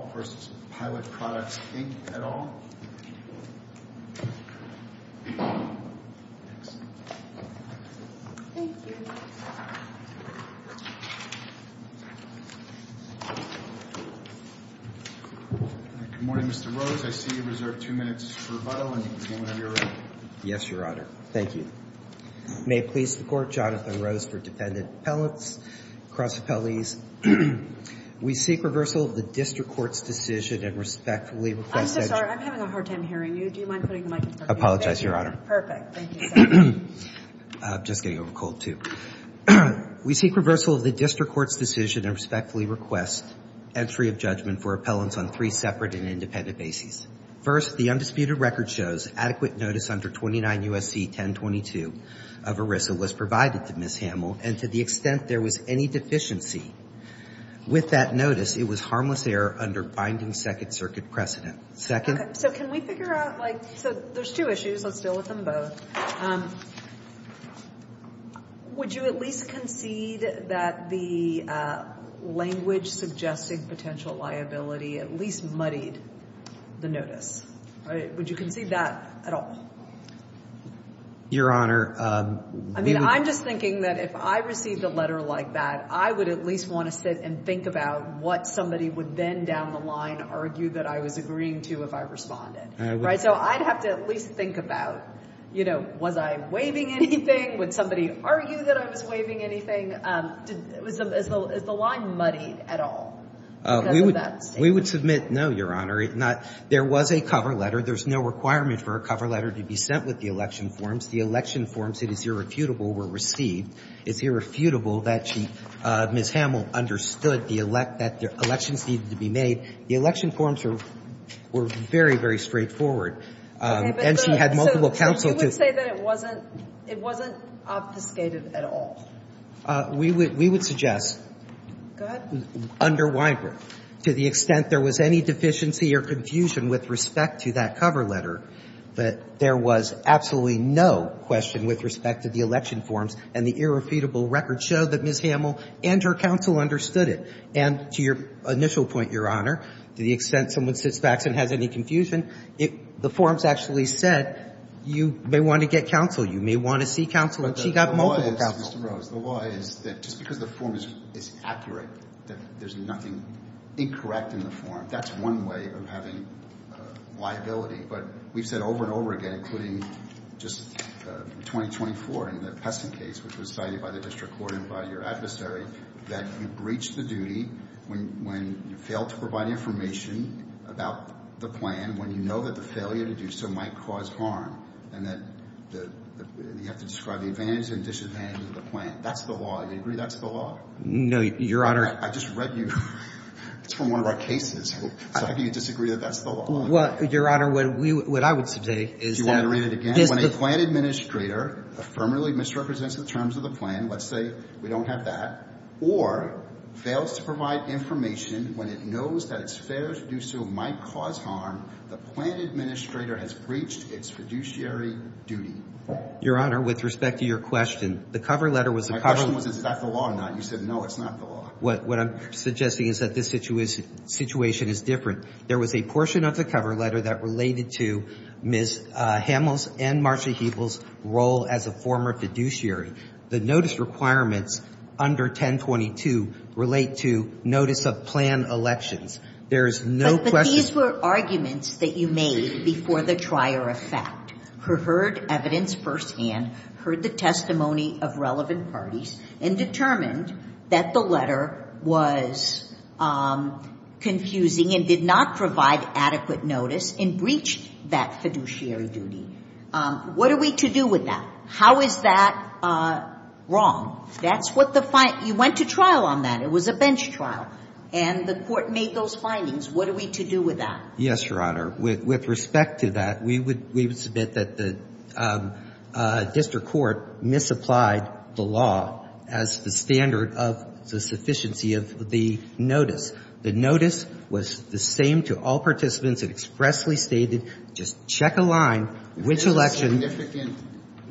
Good morning, Mr. Rose. I see you reserved two minutes for rebuttal, and you can begin whenever you're ready. Yes, Your Honor. Thank you. May it please the Court, Jonathan Rose for Dependent Appellants, Cross Appellees. We seek reversal of the District Court's decision and respectfully request entry of judgment for appellants on three separate and independent bases. First, the undisputed record shows adequate notice under 29 U.S.C. 1022 of ERISA was provided to Ms. Hamill, and to the extent there was any deficiency with that record, the defendant is found guilty of finding second circuit precedent. Second? Okay. So can we figure out, like, so there's two issues. Let's deal with them both. Would you at least concede that the language suggesting potential liability at least muddied the notice? Would you concede that at all? Your Honor, we would I mean, I'm just thinking that if I received a letter like that, I would at least want to sit and think about what somebody would then down the line argue that I was agreeing to if I responded. Right? So I'd have to at least think about, you know, was I waiving anything? Would somebody argue that I was waiving anything? Is the line muddied at all? We would submit no, Your Honor. There was a cover letter. There's no requirement for a cover letter to be sent with the election forms. The election forms, it is irrefutable, were very, very straightforward. And she had multiple counsel to So you would say that it wasn't, it wasn't obfuscated at all? We would suggest under Weinberg, to the extent there was any deficiency or confusion with respect to that cover letter, that there was absolutely no question with respect to the election forms, and the irrefutable record showed that Ms. Hamill and her counsel understood it. And there was absolutely no question. And to your initial point, Your Honor, to the extent someone sits back and has any confusion, the forms actually said, you may want to get counsel, you may want to see counsel, and she got multiple counsel. But the law is, Mr. Rose, the law is that just because the form is accurate, that there's nothing incorrect in the form, that's one way of having liability. But we've said over and over again, including just in 2024 in the Peston case, which was cited by the district court and by your adversary, that you breach the duty of the district court when you fail to provide information about the plan, when you know that the failure to do so might cause harm, and that you have to describe the advantages and disadvantages of the plan. That's the law. Do you agree that's the law? No, Your Honor. I just read you. It's from one of our cases. So how can you disagree that that's the law? Well, Your Honor, what I would say is that Do you want to read it again? When a plan administrator affirmatively misrepresents the terms of the plan, let's say we don't have that, or fails to provide information when it knows that it's fair to do so might cause harm, the plan administrator has breached its fiduciary duty. Your Honor, with respect to your question, the cover letter was a cover My question was, is that the law or not? You said, no, it's not the law. What I'm suggesting is that this situation is different. There was a portion of the cover letter that related to Ms. Hamels and Marcia Hebel's role as a former fiduciary. The notice requirements under 1022 relate to notice of plan elections. There is no question But these were arguments that you made before the trier of fact, heard evidence firsthand, heard the testimony of relevant parties, and determined that the letter was confusing and did not provide adequate notice and breached that fiduciary duty. What are we to do with that? How is that wrong? That's what the find You went to trial on that. It was a bench trial. And the court made those findings. What are we to do with that? Yes, Your Honor. With respect to that, we would submit that the district court misapplied the law as the standard of the sufficiency of the notice. The notice was the same to all participants. It expressly stated, just check a line, which election If there's a significant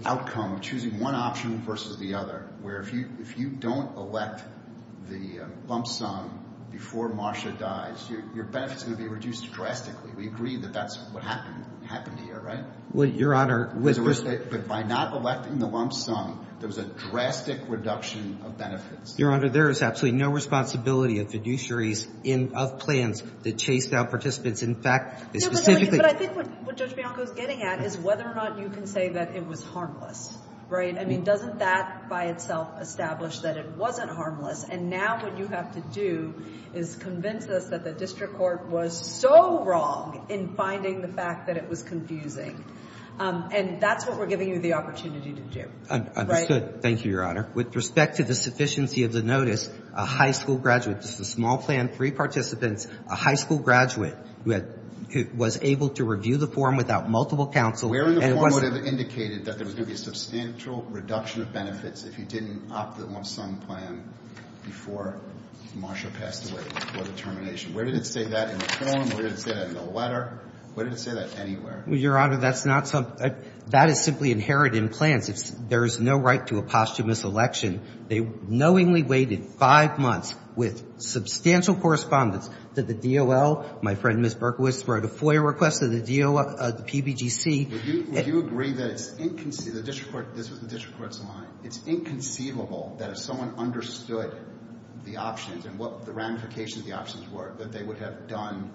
outcome, choosing one option versus the other, where if you don't elect the lump sum before Marcia dies, your benefits are going to be reduced drastically. We agree that that's what happened to you, right? Well, Your Honor, with respect But by not electing the lump sum, there was a drastic reduction of benefits. Your Honor, there is absolutely no responsibility of fiduciaries of plans that chase down participants. In fact, specifically But I think what Judge Bianco is getting at is whether or not you can say that it was harmless, right? I mean, doesn't that by itself establish that it wasn't harmless? And now what you have to do is convince us that the district court was so wrong in finding the fact that it was confusing. And that's what we're giving you the opportunity to do. Thank you, Your Honor. With respect to the sufficiency of the notice, a high school graduate, just a small plan, three participants, a high school graduate who was able to review the form without multiple counsel and was Where in the form would it have indicated that there was going to be a substantial reduction of benefits if he didn't opt the lump sum plan before Marcia passed away, before the termination? Where did it say that in the form? Where did it say that in the letter? Where did it say that anywhere? Your Honor, that is simply inherent in plans. There is no right to a posthumous election. They knowingly waited five months with substantial correspondence to the DOL. My friend, Ms. Berkowitz, wrote a FOIA request to the PBGC. Would you agree that it's inconceivable, this was the district court's line, it's inconceivable that if someone understood the options and what the ramifications of the options were, that they would have done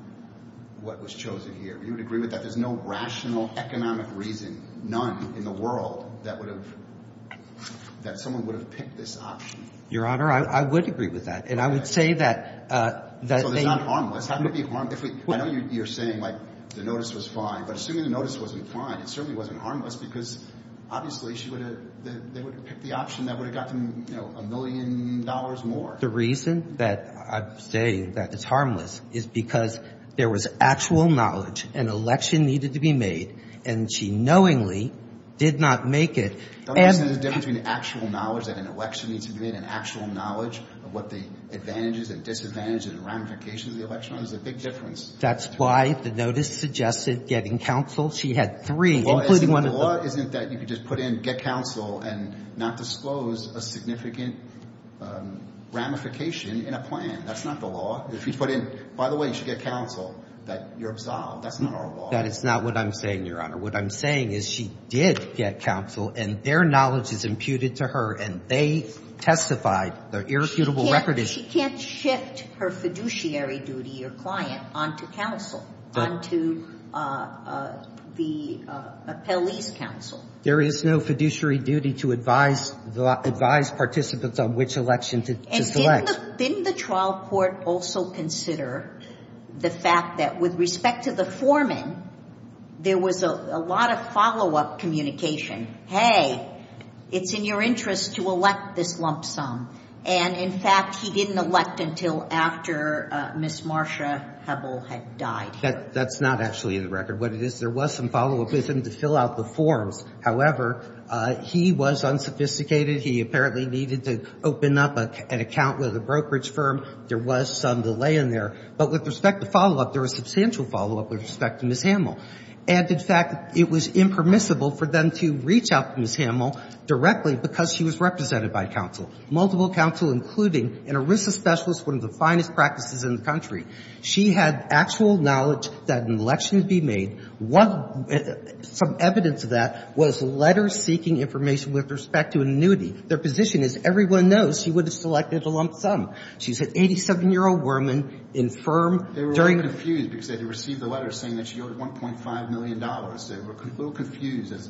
what was chosen here? Would you agree with that? There's no ramification of the options. There's no rational economic reason, none in the world, that someone would have picked this option. Your Honor, I would agree with that. And I would say that they So it's not harmless. I know you're saying the notice was fine, but assuming the notice wasn't fine, it certainly wasn't harmless because obviously they would have picked the option that would have got them a million dollars more. Your Honor, the reason that I say that it's harmless is because there was actual knowledge, an election needed to be made, and she knowingly did not make it. Don't you see the difference between actual knowledge that an election needs to be made and actual knowledge of what the advantages and disadvantages and ramifications of the election are? There's a big difference. That's why the notice suggested getting counsel. She had three, including one of the The law isn't that you could just put in get counsel and not disclose a significant ramification in a plan. That's not the law. If you put in, by the way, you should get counsel, that you're absolved. That's not our law. That is not what I'm saying, Your Honor. What I'm saying is she did get counsel, and their knowledge is imputed to her, and they testified. Their irrefutable record is that she can't shift her fiduciary duty or client onto counsel, onto the appellee's counsel. There is no fiduciary duty to advise participants on which election to select. And didn't the trial court also consider the fact that, with respect to the foreman, there was a lot of follow-up communication? Hey, it's in your interest to elect this lump sum. And, in fact, he didn't. He didn't elect until after Ms. Marsha Hebel had died. That's not actually in the record. What it is, there was some follow-up with him to fill out the forms. However, he was unsophisticated. He apparently needed to open up an account with a brokerage firm. There was some delay in there. But with respect to follow-up, there was substantial follow-up with respect to Ms. Hemel. And, in fact, it was impermissible for them to reach out to Ms. Hemel directly because she was represented by counsel. Multiple counsel, including an ERISA specialist, one of the finest practices in the country. She had actual knowledge that an election would be made. Some evidence of that was letters seeking information with respect to an annuity. Their position is everyone knows she would have selected a lump sum. She's an 87-year-old woman in a firm during the period. They were a little confused because they had received a letter saying that she owed $1.5 million. They were a little confused, as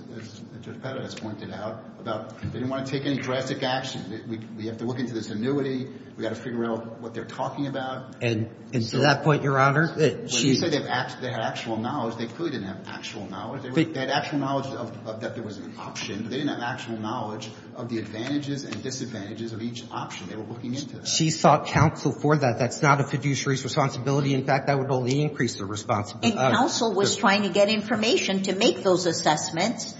Judge Petra has pointed out, about they didn't want to take any drastic action. We have to look into this annuity. We've got to figure out what they're talking about. And to that point, Your Honor, she's said they had actual knowledge. They clearly didn't have actual knowledge. They had actual knowledge that there was an option. They didn't have actual knowledge of the advantages and disadvantages of each option. They were looking into that. She sought counsel for that. That's not a fiduciary's responsibility. In fact, that would only increase their responsibility. And counsel was trying to get information to make those assessments,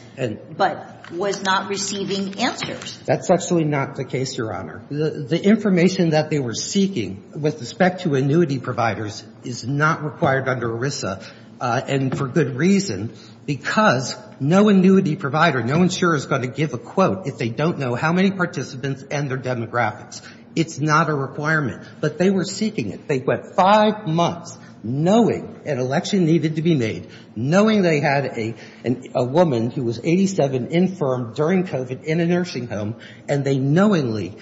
but was not receiving answers. That's actually not the case, Your Honor. The information that they were seeking with respect to annuity providers is not required under ERISA, and for good reason, because no annuity provider, no insurer is going to give a quote if they don't know how many participants and their demographics. It's not a requirement. But they were seeking it. They went five months knowing an election needed to be made, knowing they had a woman who was 87 infirmed during COVID in a nursing home, and they knowingly,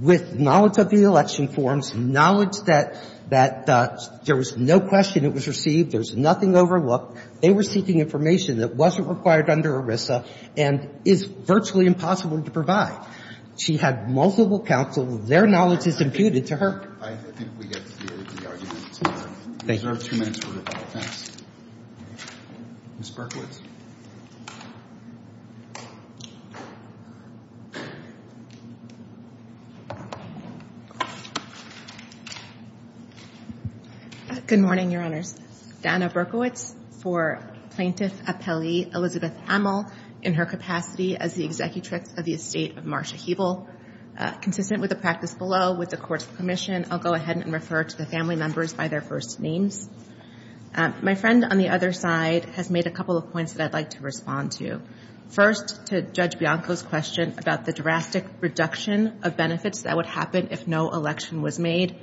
with knowledge of the election forms, knowledge that there was no question it was received, there's nothing overlooked, they were seeking information that wasn't required under ERISA and is virtually impossible to provide. She had multiple counsel. Their knowledge is imputed to her. I think we get the argument. These are two minutes worth. Ms. Berkowitz. Good morning, Your Honors. Dana Berkowitz for Plaintiff Appellee Elizabeth Hamel in her capacity as the Executrix of the Estate of Marsha Hebel. Consistent with the practice below, with the Court's permission, I'll go ahead and refer to the family members by their first names. My friend on the other side has made a couple of points that I'd like to respond to. First, to Judge Bianco's question about the drastic reduction of benefits that would happen if no election was made.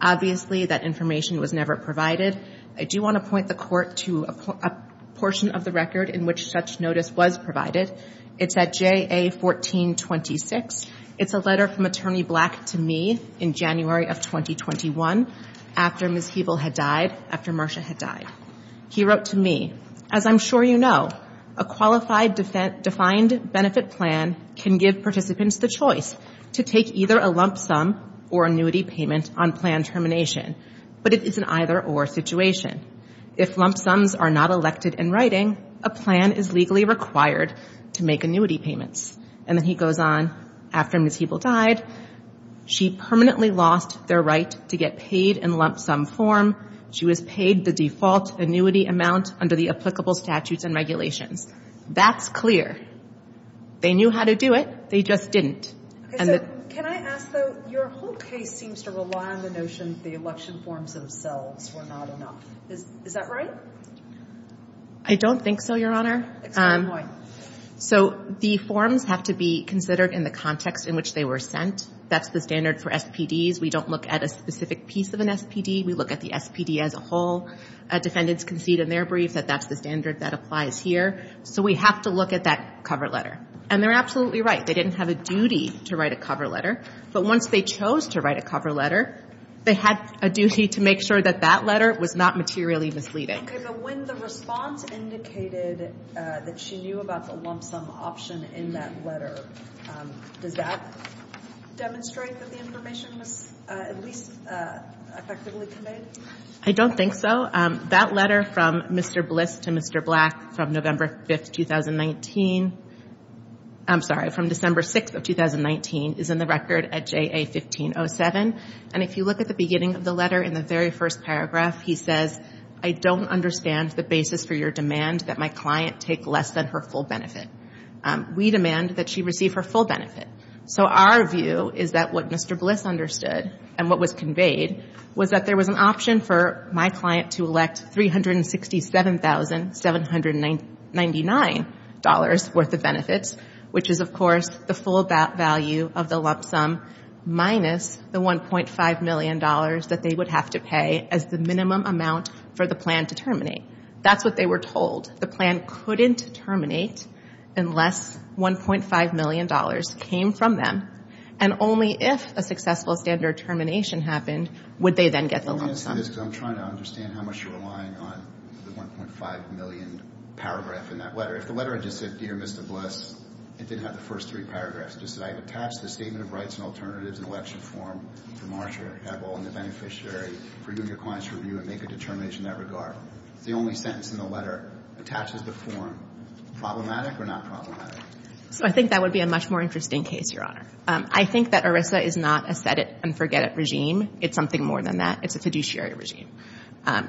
Obviously, that information was never provided. I do want to point the Court to a portion of the record in which such notice was provided. It's at JA 1426. It's a letter from Attorney Black to me in January of 2021 after Ms. Hebel had died, after Marsha had died. He wrote to me, As I'm sure you know, a qualified defined benefit plan can give participants the choice to take either a lump sum or annuity payment on plan termination, but it is an either-or situation. If lump sums are not elected in writing, a plan is legally required to make annuity payments. And then he goes on, after Ms. Hebel died, she permanently lost their right to get paid in lump sum form. She was paid the default annuity amount under the applicable statutes and regulations. That's clear. They knew how to do it. They just didn't. Okay, so can I ask, though, your whole case seems to rely on the notion that the election forms themselves were not enough. Is that right? I don't think so, Your Honor. It's my point. So the forms have to be considered in the context in which they were sent. That's the standard for SPDs. We don't look at a specific piece of an SPD. We look at the SPD as a whole. Defendants concede in their brief that that's the standard that applies here. So we have to look at that cover letter. And they're absolutely right. They didn't have a duty to write a cover letter. But once they chose to write a cover letter, they had a duty to make sure that that letter was not materially misleading. Okay, but when the response indicated that she knew about the lump sum option in that letter, does that demonstrate that the information was at least effectively conveyed? I don't think so. That letter from Mr. Bliss to Mr. Black from November 5, 2019, I'm sorry, from December 6, 2019, is in the record at JA-1507. And if you look at the beginning of the letter in the very first paragraph, he says, I don't understand the basis for your demand that my client take less than her full benefit. We demand that she receive her full benefit. So our view is that what Mr. Bliss understood and what was conveyed was that there was an option for my client to elect $367,799 worth of benefits, which is, of course, the full value of the lump sum, minus the $1.5 million that they would have to pay as the minimum amount for the plan to terminate. That's what they were told. The plan couldn't terminate unless $1.5 million came from them. And only if a successful standard termination happened would they then get the lump sum. I'm trying to understand how much you're relying on the $1.5 million paragraph in that letter. If the letter had just said, Dear Mr. Bliss, it didn't have the first three paragraphs. It just said, I have attached the statement of rights and alternatives in election form to Marsha Hebbel and the beneficiary for you and your client's review and make a determination in that regard. The only sentence in the letter attaches the form. Problematic or not problematic? So I think that would be a much more interesting case, Your Honor. I think that ERISA is not a set-it-and-forget-it regime. It's something more than that. It's a fiduciary regime.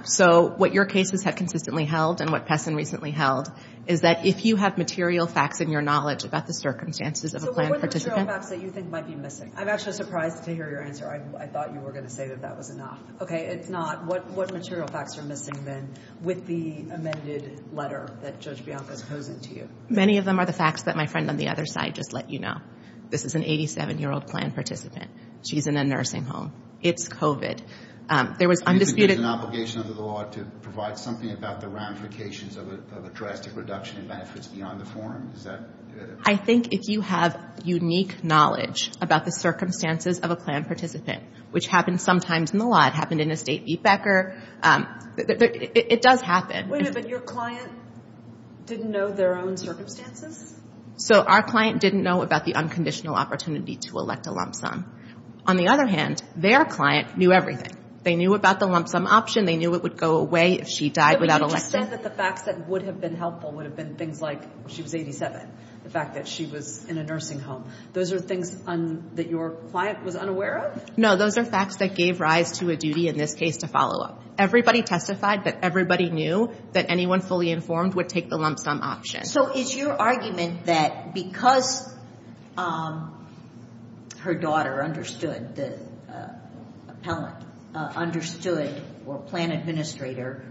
So what your cases have consistently held and what Pessin recently held is that if you have material facts and your knowledge about the circumstances of a plan participant. So what material facts that you think might be missing? I'm actually surprised to hear your answer. I thought you were going to say that that was enough. Okay, it's not. What material facts are missing then with the amended letter that Judge Bianca is posing to you? Many of them are the facts that my friend on the other side just let you know. This is an 87-year-old plan participant. She's in a nursing home. It's COVID. There was undisputed. You think there's an obligation under the law to provide something about the ramifications of a drastic reduction in benefits beyond the form? I think if you have unique knowledge about the circumstances of a plan participant, which happens sometimes in the law. It happened in a state beat backer. It does happen. Wait a minute, but your client didn't know their own circumstances? So our client didn't know about the unconditional opportunity to elect a lump sum. On the other hand, their client knew everything. They knew about the lump sum option. They knew it would go away if she died without electing. But you just said that the facts that would have been helpful would have been things like she was 87, the fact that she was in a nursing home. Those are things that your client was unaware of? No, those are facts that gave rise to a duty in this case to follow up. Everybody testified that everybody knew that anyone fully informed would take the lump sum option. So is your argument that because her daughter understood or plan administrator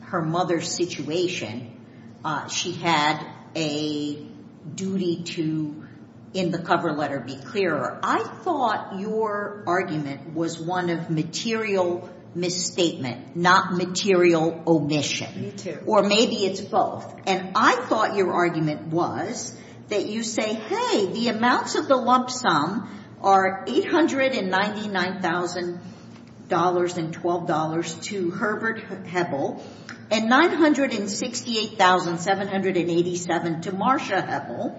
her mother's situation, she had a duty to, in the cover letter, be clearer. I thought your argument was one of material misstatement, not material omission. Me too. Or maybe it's both. And I thought your argument was that you say, hey, the amounts of the lump sum are $899,000 and $12 to Herbert Hebel and $968,787 to Marcia Hebel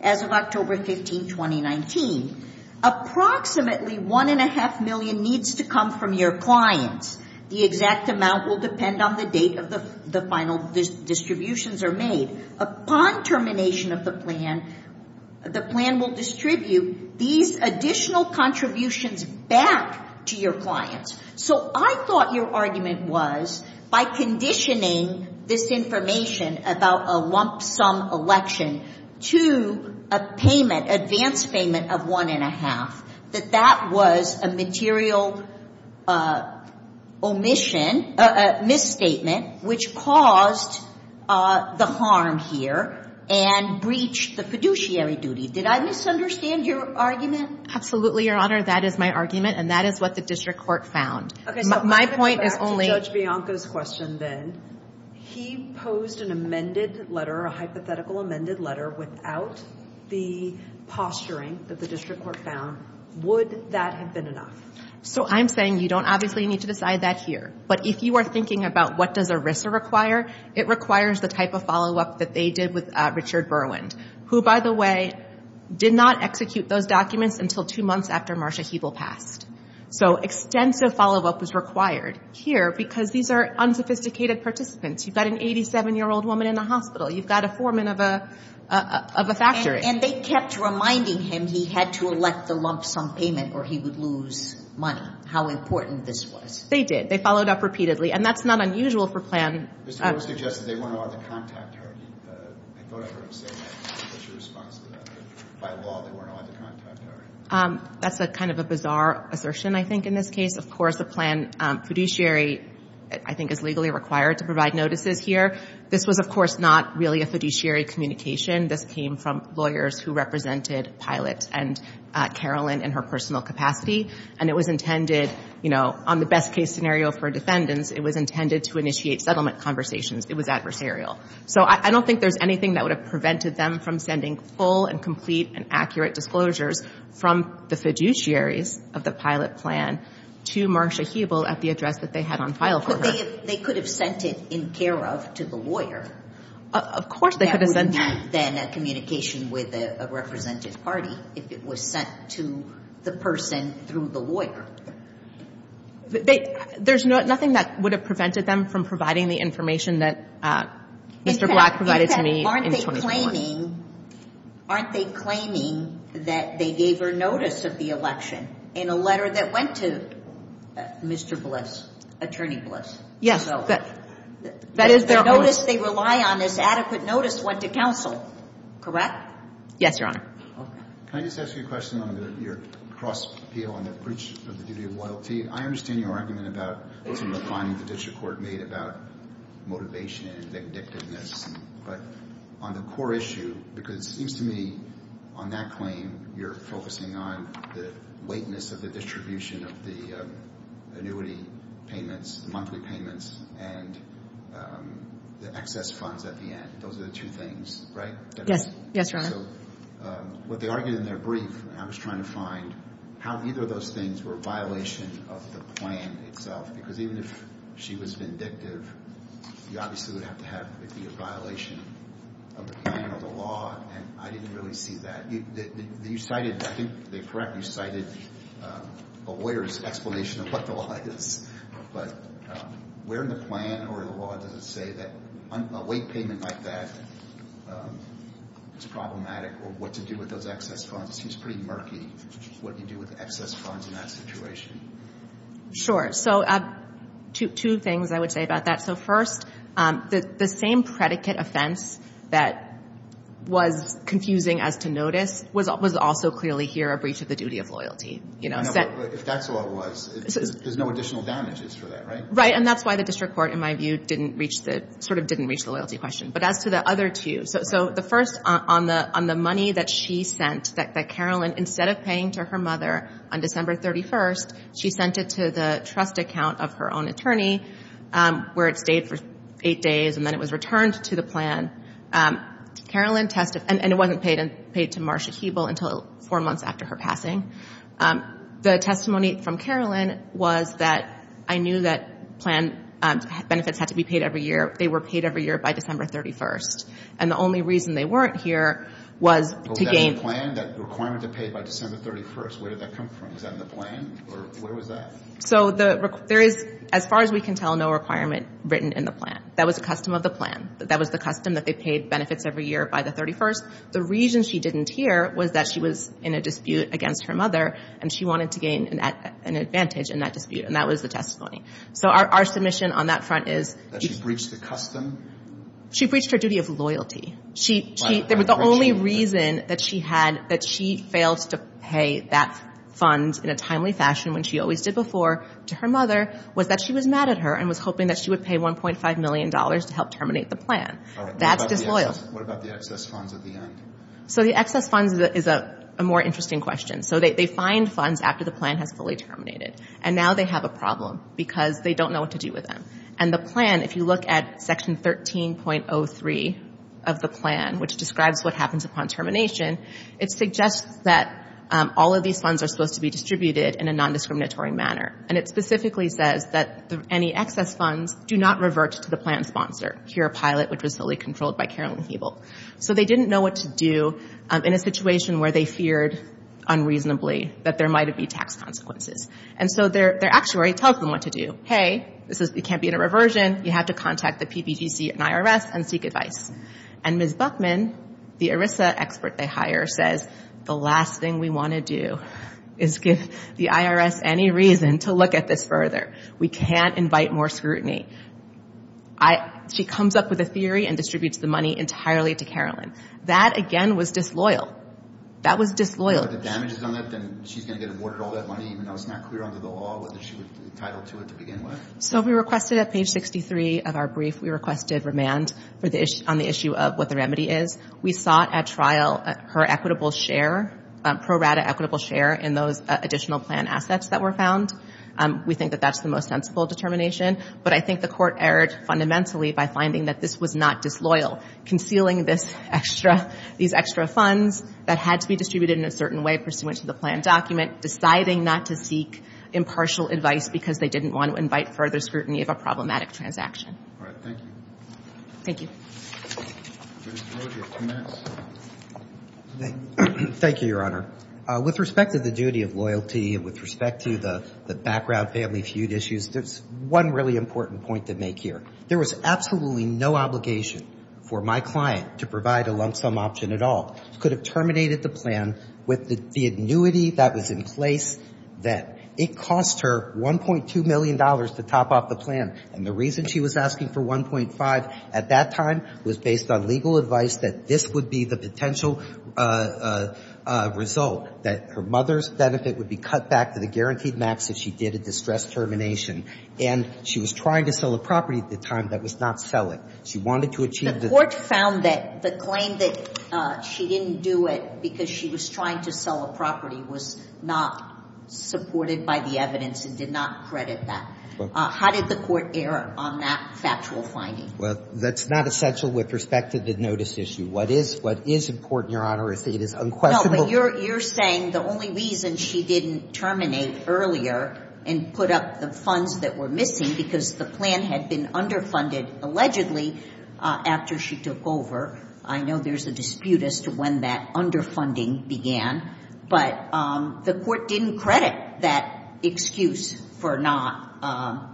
as of October 15, 2019. Approximately one and a half million needs to come from your clients. The exact amount will depend on the date of the final distributions are made. Upon termination of the plan, the plan will distribute these additional contributions back to your clients. So I thought your argument was by conditioning this information about a lump sum election to a payment, advance payment of one and a half, that that was a material omission, a misstatement, which caused the harm here and breached the fiduciary duty. Did I misunderstand your argument? Absolutely, Your Honor. That is my argument. And that is what the district court found. My point is only – Okay. that the district court found, would that have been enough? So I'm saying you don't obviously need to decide that here. But if you are thinking about what does ERISA require, it requires the type of follow-up that they did with Richard Berwind, who, by the way, did not execute those documents until two months after Marcia Hebel passed. So extensive follow-up was required here because these are unsophisticated participants. You've got an 87-year-old woman in the hospital. You've got a foreman of a factory. And they kept reminding him he had to elect the lump sum payment or he would lose money. How important this was. They did. They followed up repeatedly. And that's not unusual for plan – Mr. Moore suggested they weren't allowed to contact her. I thought I heard him say that. What's your response to that? By law, they weren't allowed to contact her. That's kind of a bizarre assertion, I think, in this case. Of course, a plan fiduciary, I think, is legally required to provide notices here. This was, of course, not really a fiduciary communication. This came from lawyers who represented Pilot and Carolyn in her personal capacity. And it was intended, you know, on the best-case scenario for defendants, it was intended to initiate settlement conversations. It was adversarial. So I don't think there's anything that would have prevented them from sending full and complete and accurate disclosures from the fiduciaries of the Pilot plan to Marcia Hebel at the address that they had on file for her. But they could have sent it in care of to the lawyer. Of course they could have sent it. It would be then a communication with a representative party if it was sent to the person through the lawyer. There's nothing that would have prevented them from providing the information that Mr. Black provided to me in 2004. Aren't they claiming that they gave her notice of the election in a letter that went to Mr. Bliss, Attorney Bliss? Yes. That is, the notice they rely on is adequate notice went to counsel, correct? Yes, Your Honor. Can I just ask you a question on your cross-appeal on the breach of the duty of loyalty? I understand your argument about some of the findings the district court made about motivation and addictiveness. But on the core issue, because it seems to me on that claim you're focusing on the monthly payments and the excess funds at the end. Those are the two things, right? Yes, Your Honor. What they argued in their brief, and I was trying to find how either of those things were a violation of the plan itself. Because even if she was vindictive, you obviously would have to have it be a violation of the plan or the law. And I didn't really see that. You cited, I think, correct, you cited a lawyer's explanation of what the law is. But where in the plan or the law does it say that a weight payment like that is problematic or what to do with those excess funds? It seems pretty murky what you do with excess funds in that situation. Sure. So two things I would say about that. So first, the same predicate offense that was confusing as to notice was also clearly here a breach of the duty of loyalty. But if that's all it was, there's no additional damages for that, right? Right. And that's why the district court, in my view, didn't reach the loyalty question. But as to the other two, so the first, on the money that she sent, that Carolyn, instead of paying to her mother on December 31st, she sent it to the trust account of her own attorney where it stayed for eight days, and then it was returned to the plan. Carolyn tested, and it wasn't paid to Marsha Hebel until four months after her passing. The testimony from Carolyn was that I knew that plan benefits had to be paid every year. They were paid every year by December 31st. And the only reason they weren't here was to gain. Was that in the plan, that requirement to pay by December 31st? Where did that come from? Was that in the plan? Or where was that? So there is, as far as we can tell, no requirement written in the plan. That was a custom of the plan. That was the custom that they paid benefits every year by the 31st. The reason she didn't hear was that she was in a dispute against her mother, and she wanted to gain an advantage in that dispute. And that was the testimony. So our submission on that front is... That she breached the custom? She breached her duty of loyalty. There was the only reason that she had that she failed to pay that fund in a timely fashion when she always did before to her mother was that she was mad at her and was hoping that she would pay $1.5 million to help terminate the plan. That's disloyal. What about the excess funds at the end? So the excess funds is a more interesting question. So they find funds after the plan has fully terminated. And now they have a problem because they don't know what to do with them. And the plan, if you look at Section 13.03 of the plan, which describes what happens upon termination, it suggests that all of these funds are supposed to be distributed in a nondiscriminatory manner. And it specifically says that any excess funds do not revert to the plan sponsor, Cure Pilot, which was fully controlled by Carolyn Hebel. So they didn't know what to do in a situation where they feared unreasonably that there might be tax consequences. And so their actuary tells them what to do. Hey, this can't be in a reversion. You have to contact the PPTC and IRS and seek advice. And Ms. Buckman, the ERISA expert they hire, says the last thing we want to do is give the IRS any reason to look at this further. We can't invite more scrutiny. She comes up with a theory and distributes the money entirely to Carolyn. That, again, was disloyal. That was disloyal. So if the damage is on it, then she's going to get awarded all that money, even though it's not clear under the law whether she was entitled to it to begin with? So we requested at page 63 of our brief, we requested remand on the issue of what the remedy is. We sought at trial her equitable share, pro rata equitable share in those additional plan assets that were found. We think that that's the most sensible determination. But I think the court erred fundamentally by finding that this was not disloyal, concealing these extra funds that had to be distributed in a certain way pursuant to the plan document, deciding not to seek impartial advice because they didn't want to invite further scrutiny of a problematic transaction. All right. Thank you. Thank you. Thank you, Your Honor. With respect to the duty of loyalty, with respect to the background family feud issues, there's one really important point to make here. There was absolutely no obligation for my client to provide a lump sum option at all. Could have terminated the plan with the annuity that was in place that it cost her $1.2 million to top off the plan. And the reason she was asking for 1.5 at that time was based on legal advice that this would be the potential result, that her mother's benefit would be cut back to the guaranteed max if she did a distressed termination. And she was trying to sell a property at the time that was not selling. She wanted to achieve the ---- The court found that the claim that she didn't do it because she was trying to sell a property was not supported by the evidence and did not credit that. How did the court err on that factual finding? Well, that's not essential with respect to the notice issue. What is important, Your Honor, is that it is unquestionable ---- No, but you're saying the only reason she didn't terminate earlier and put up the funds that were missing because the plan had been underfunded allegedly after she took over. I know there's a dispute as to when that underfunding began. But the court didn't credit that excuse for not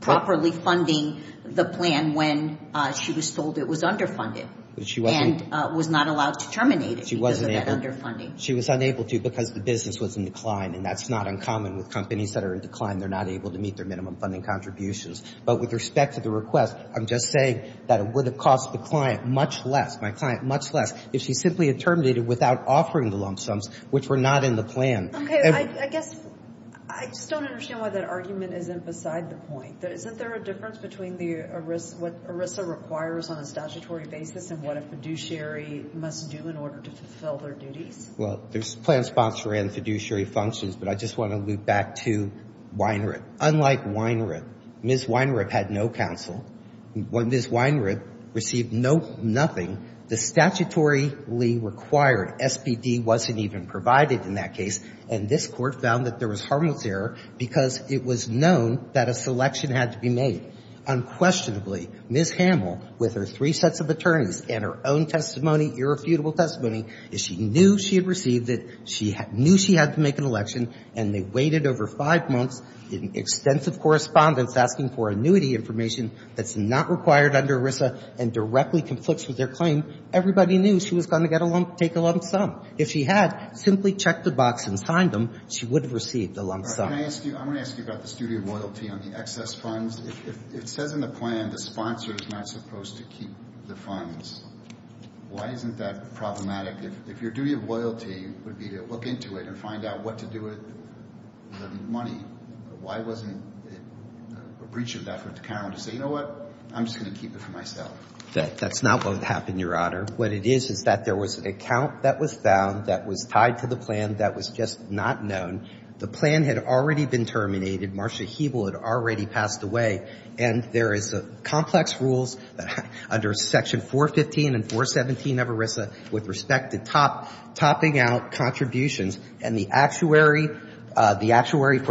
properly funding the plan when she was told it was underfunded and was not allowed to terminate it because of that underfunding. She was unable to because the business was in decline, and that's not uncommon with companies that are in decline. They're not able to meet their minimum funding contributions. But with respect to the request, I'm just saying that it would have cost the client much less, my client much less, if she simply had terminated it without offering the lump sums which were not in the plan. Okay. I guess I just don't understand why that argument isn't beside the point. Isn't there a difference between what ERISA requires on a statutory basis and what a fiduciary must do in order to fulfill their duties? Well, there's plan sponsor and fiduciary functions, but I just want to loop back to Weinripp. Unlike Weinripp, Ms. Weinripp had no counsel. When Ms. Weinripp received nothing, the statutorily required SBD wasn't even provided in that case, and this Court found that there was harmless error because it was known that a selection had to be made. Unquestionably, Ms. Hamel, with her three sets of attorneys and her own testimony, irrefutable testimony, is she knew she had received it, she knew she had to make an election, and they waited over five months in extensive correspondence asking for annuity information that's not required under ERISA and directly conflicts with their claim. Everybody knew she was going to take a lump sum. If she had simply checked the box and signed them, she would have received a lump sum. All right. I'm going to ask you about the duty of loyalty on the excess funds. If it says in the plan the sponsor is not supposed to keep the funds, why isn't that problematic? If your duty of loyalty would be to look into it and find out what to do with the money, why wasn't a breach of that for the accountant to say, you know what, I'm just going to keep it for myself? That's not what happened, Your Honor. What it is is that there was an account that was found that was tied to the plan that was just not known. The plan had already been terminated. Marcia Hebel had already passed away. And there is complex rules under Section 415 and 417 of ERISA with respect to topping out contributions. And the actuary for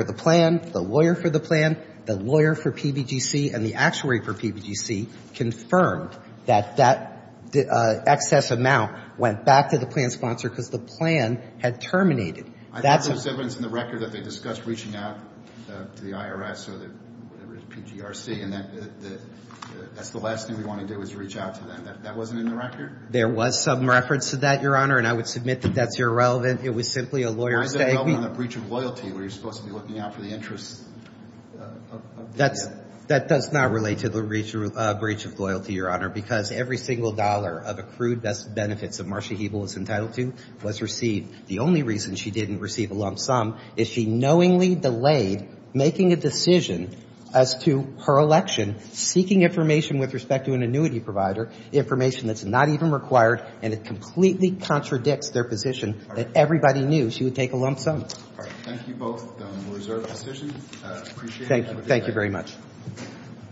the plan, the lawyer for the plan, the lawyer for PBGC, and the actuary for PBGC confirmed that that excess amount went back to the plan sponsor because the plan had terminated. I think there's evidence in the record that they discussed reaching out to the IRS or the PGRC, and that's the last thing we want to do is reach out to them. That wasn't in the record? There was some reference to that, Your Honor, and I would submit that that's irrelevant. It was simply a lawyer's statement. Why is that relevant on a breach of loyalty where you're supposed to be looking out for the interests of the plan? That does not relate to the breach of loyalty, Your Honor, because every single dollar of accrued benefits that Marcia Hebel was entitled to was received. The only reason she didn't receive a lump sum is she knowingly delayed making a decision as to her election seeking information with respect to an annuity provider, information that's not even required, and it completely contradicts their position that everybody knew she would take a lump sum. All right. Thank you both. We'll reserve the position. Appreciate it. Thank you. Thank you very much.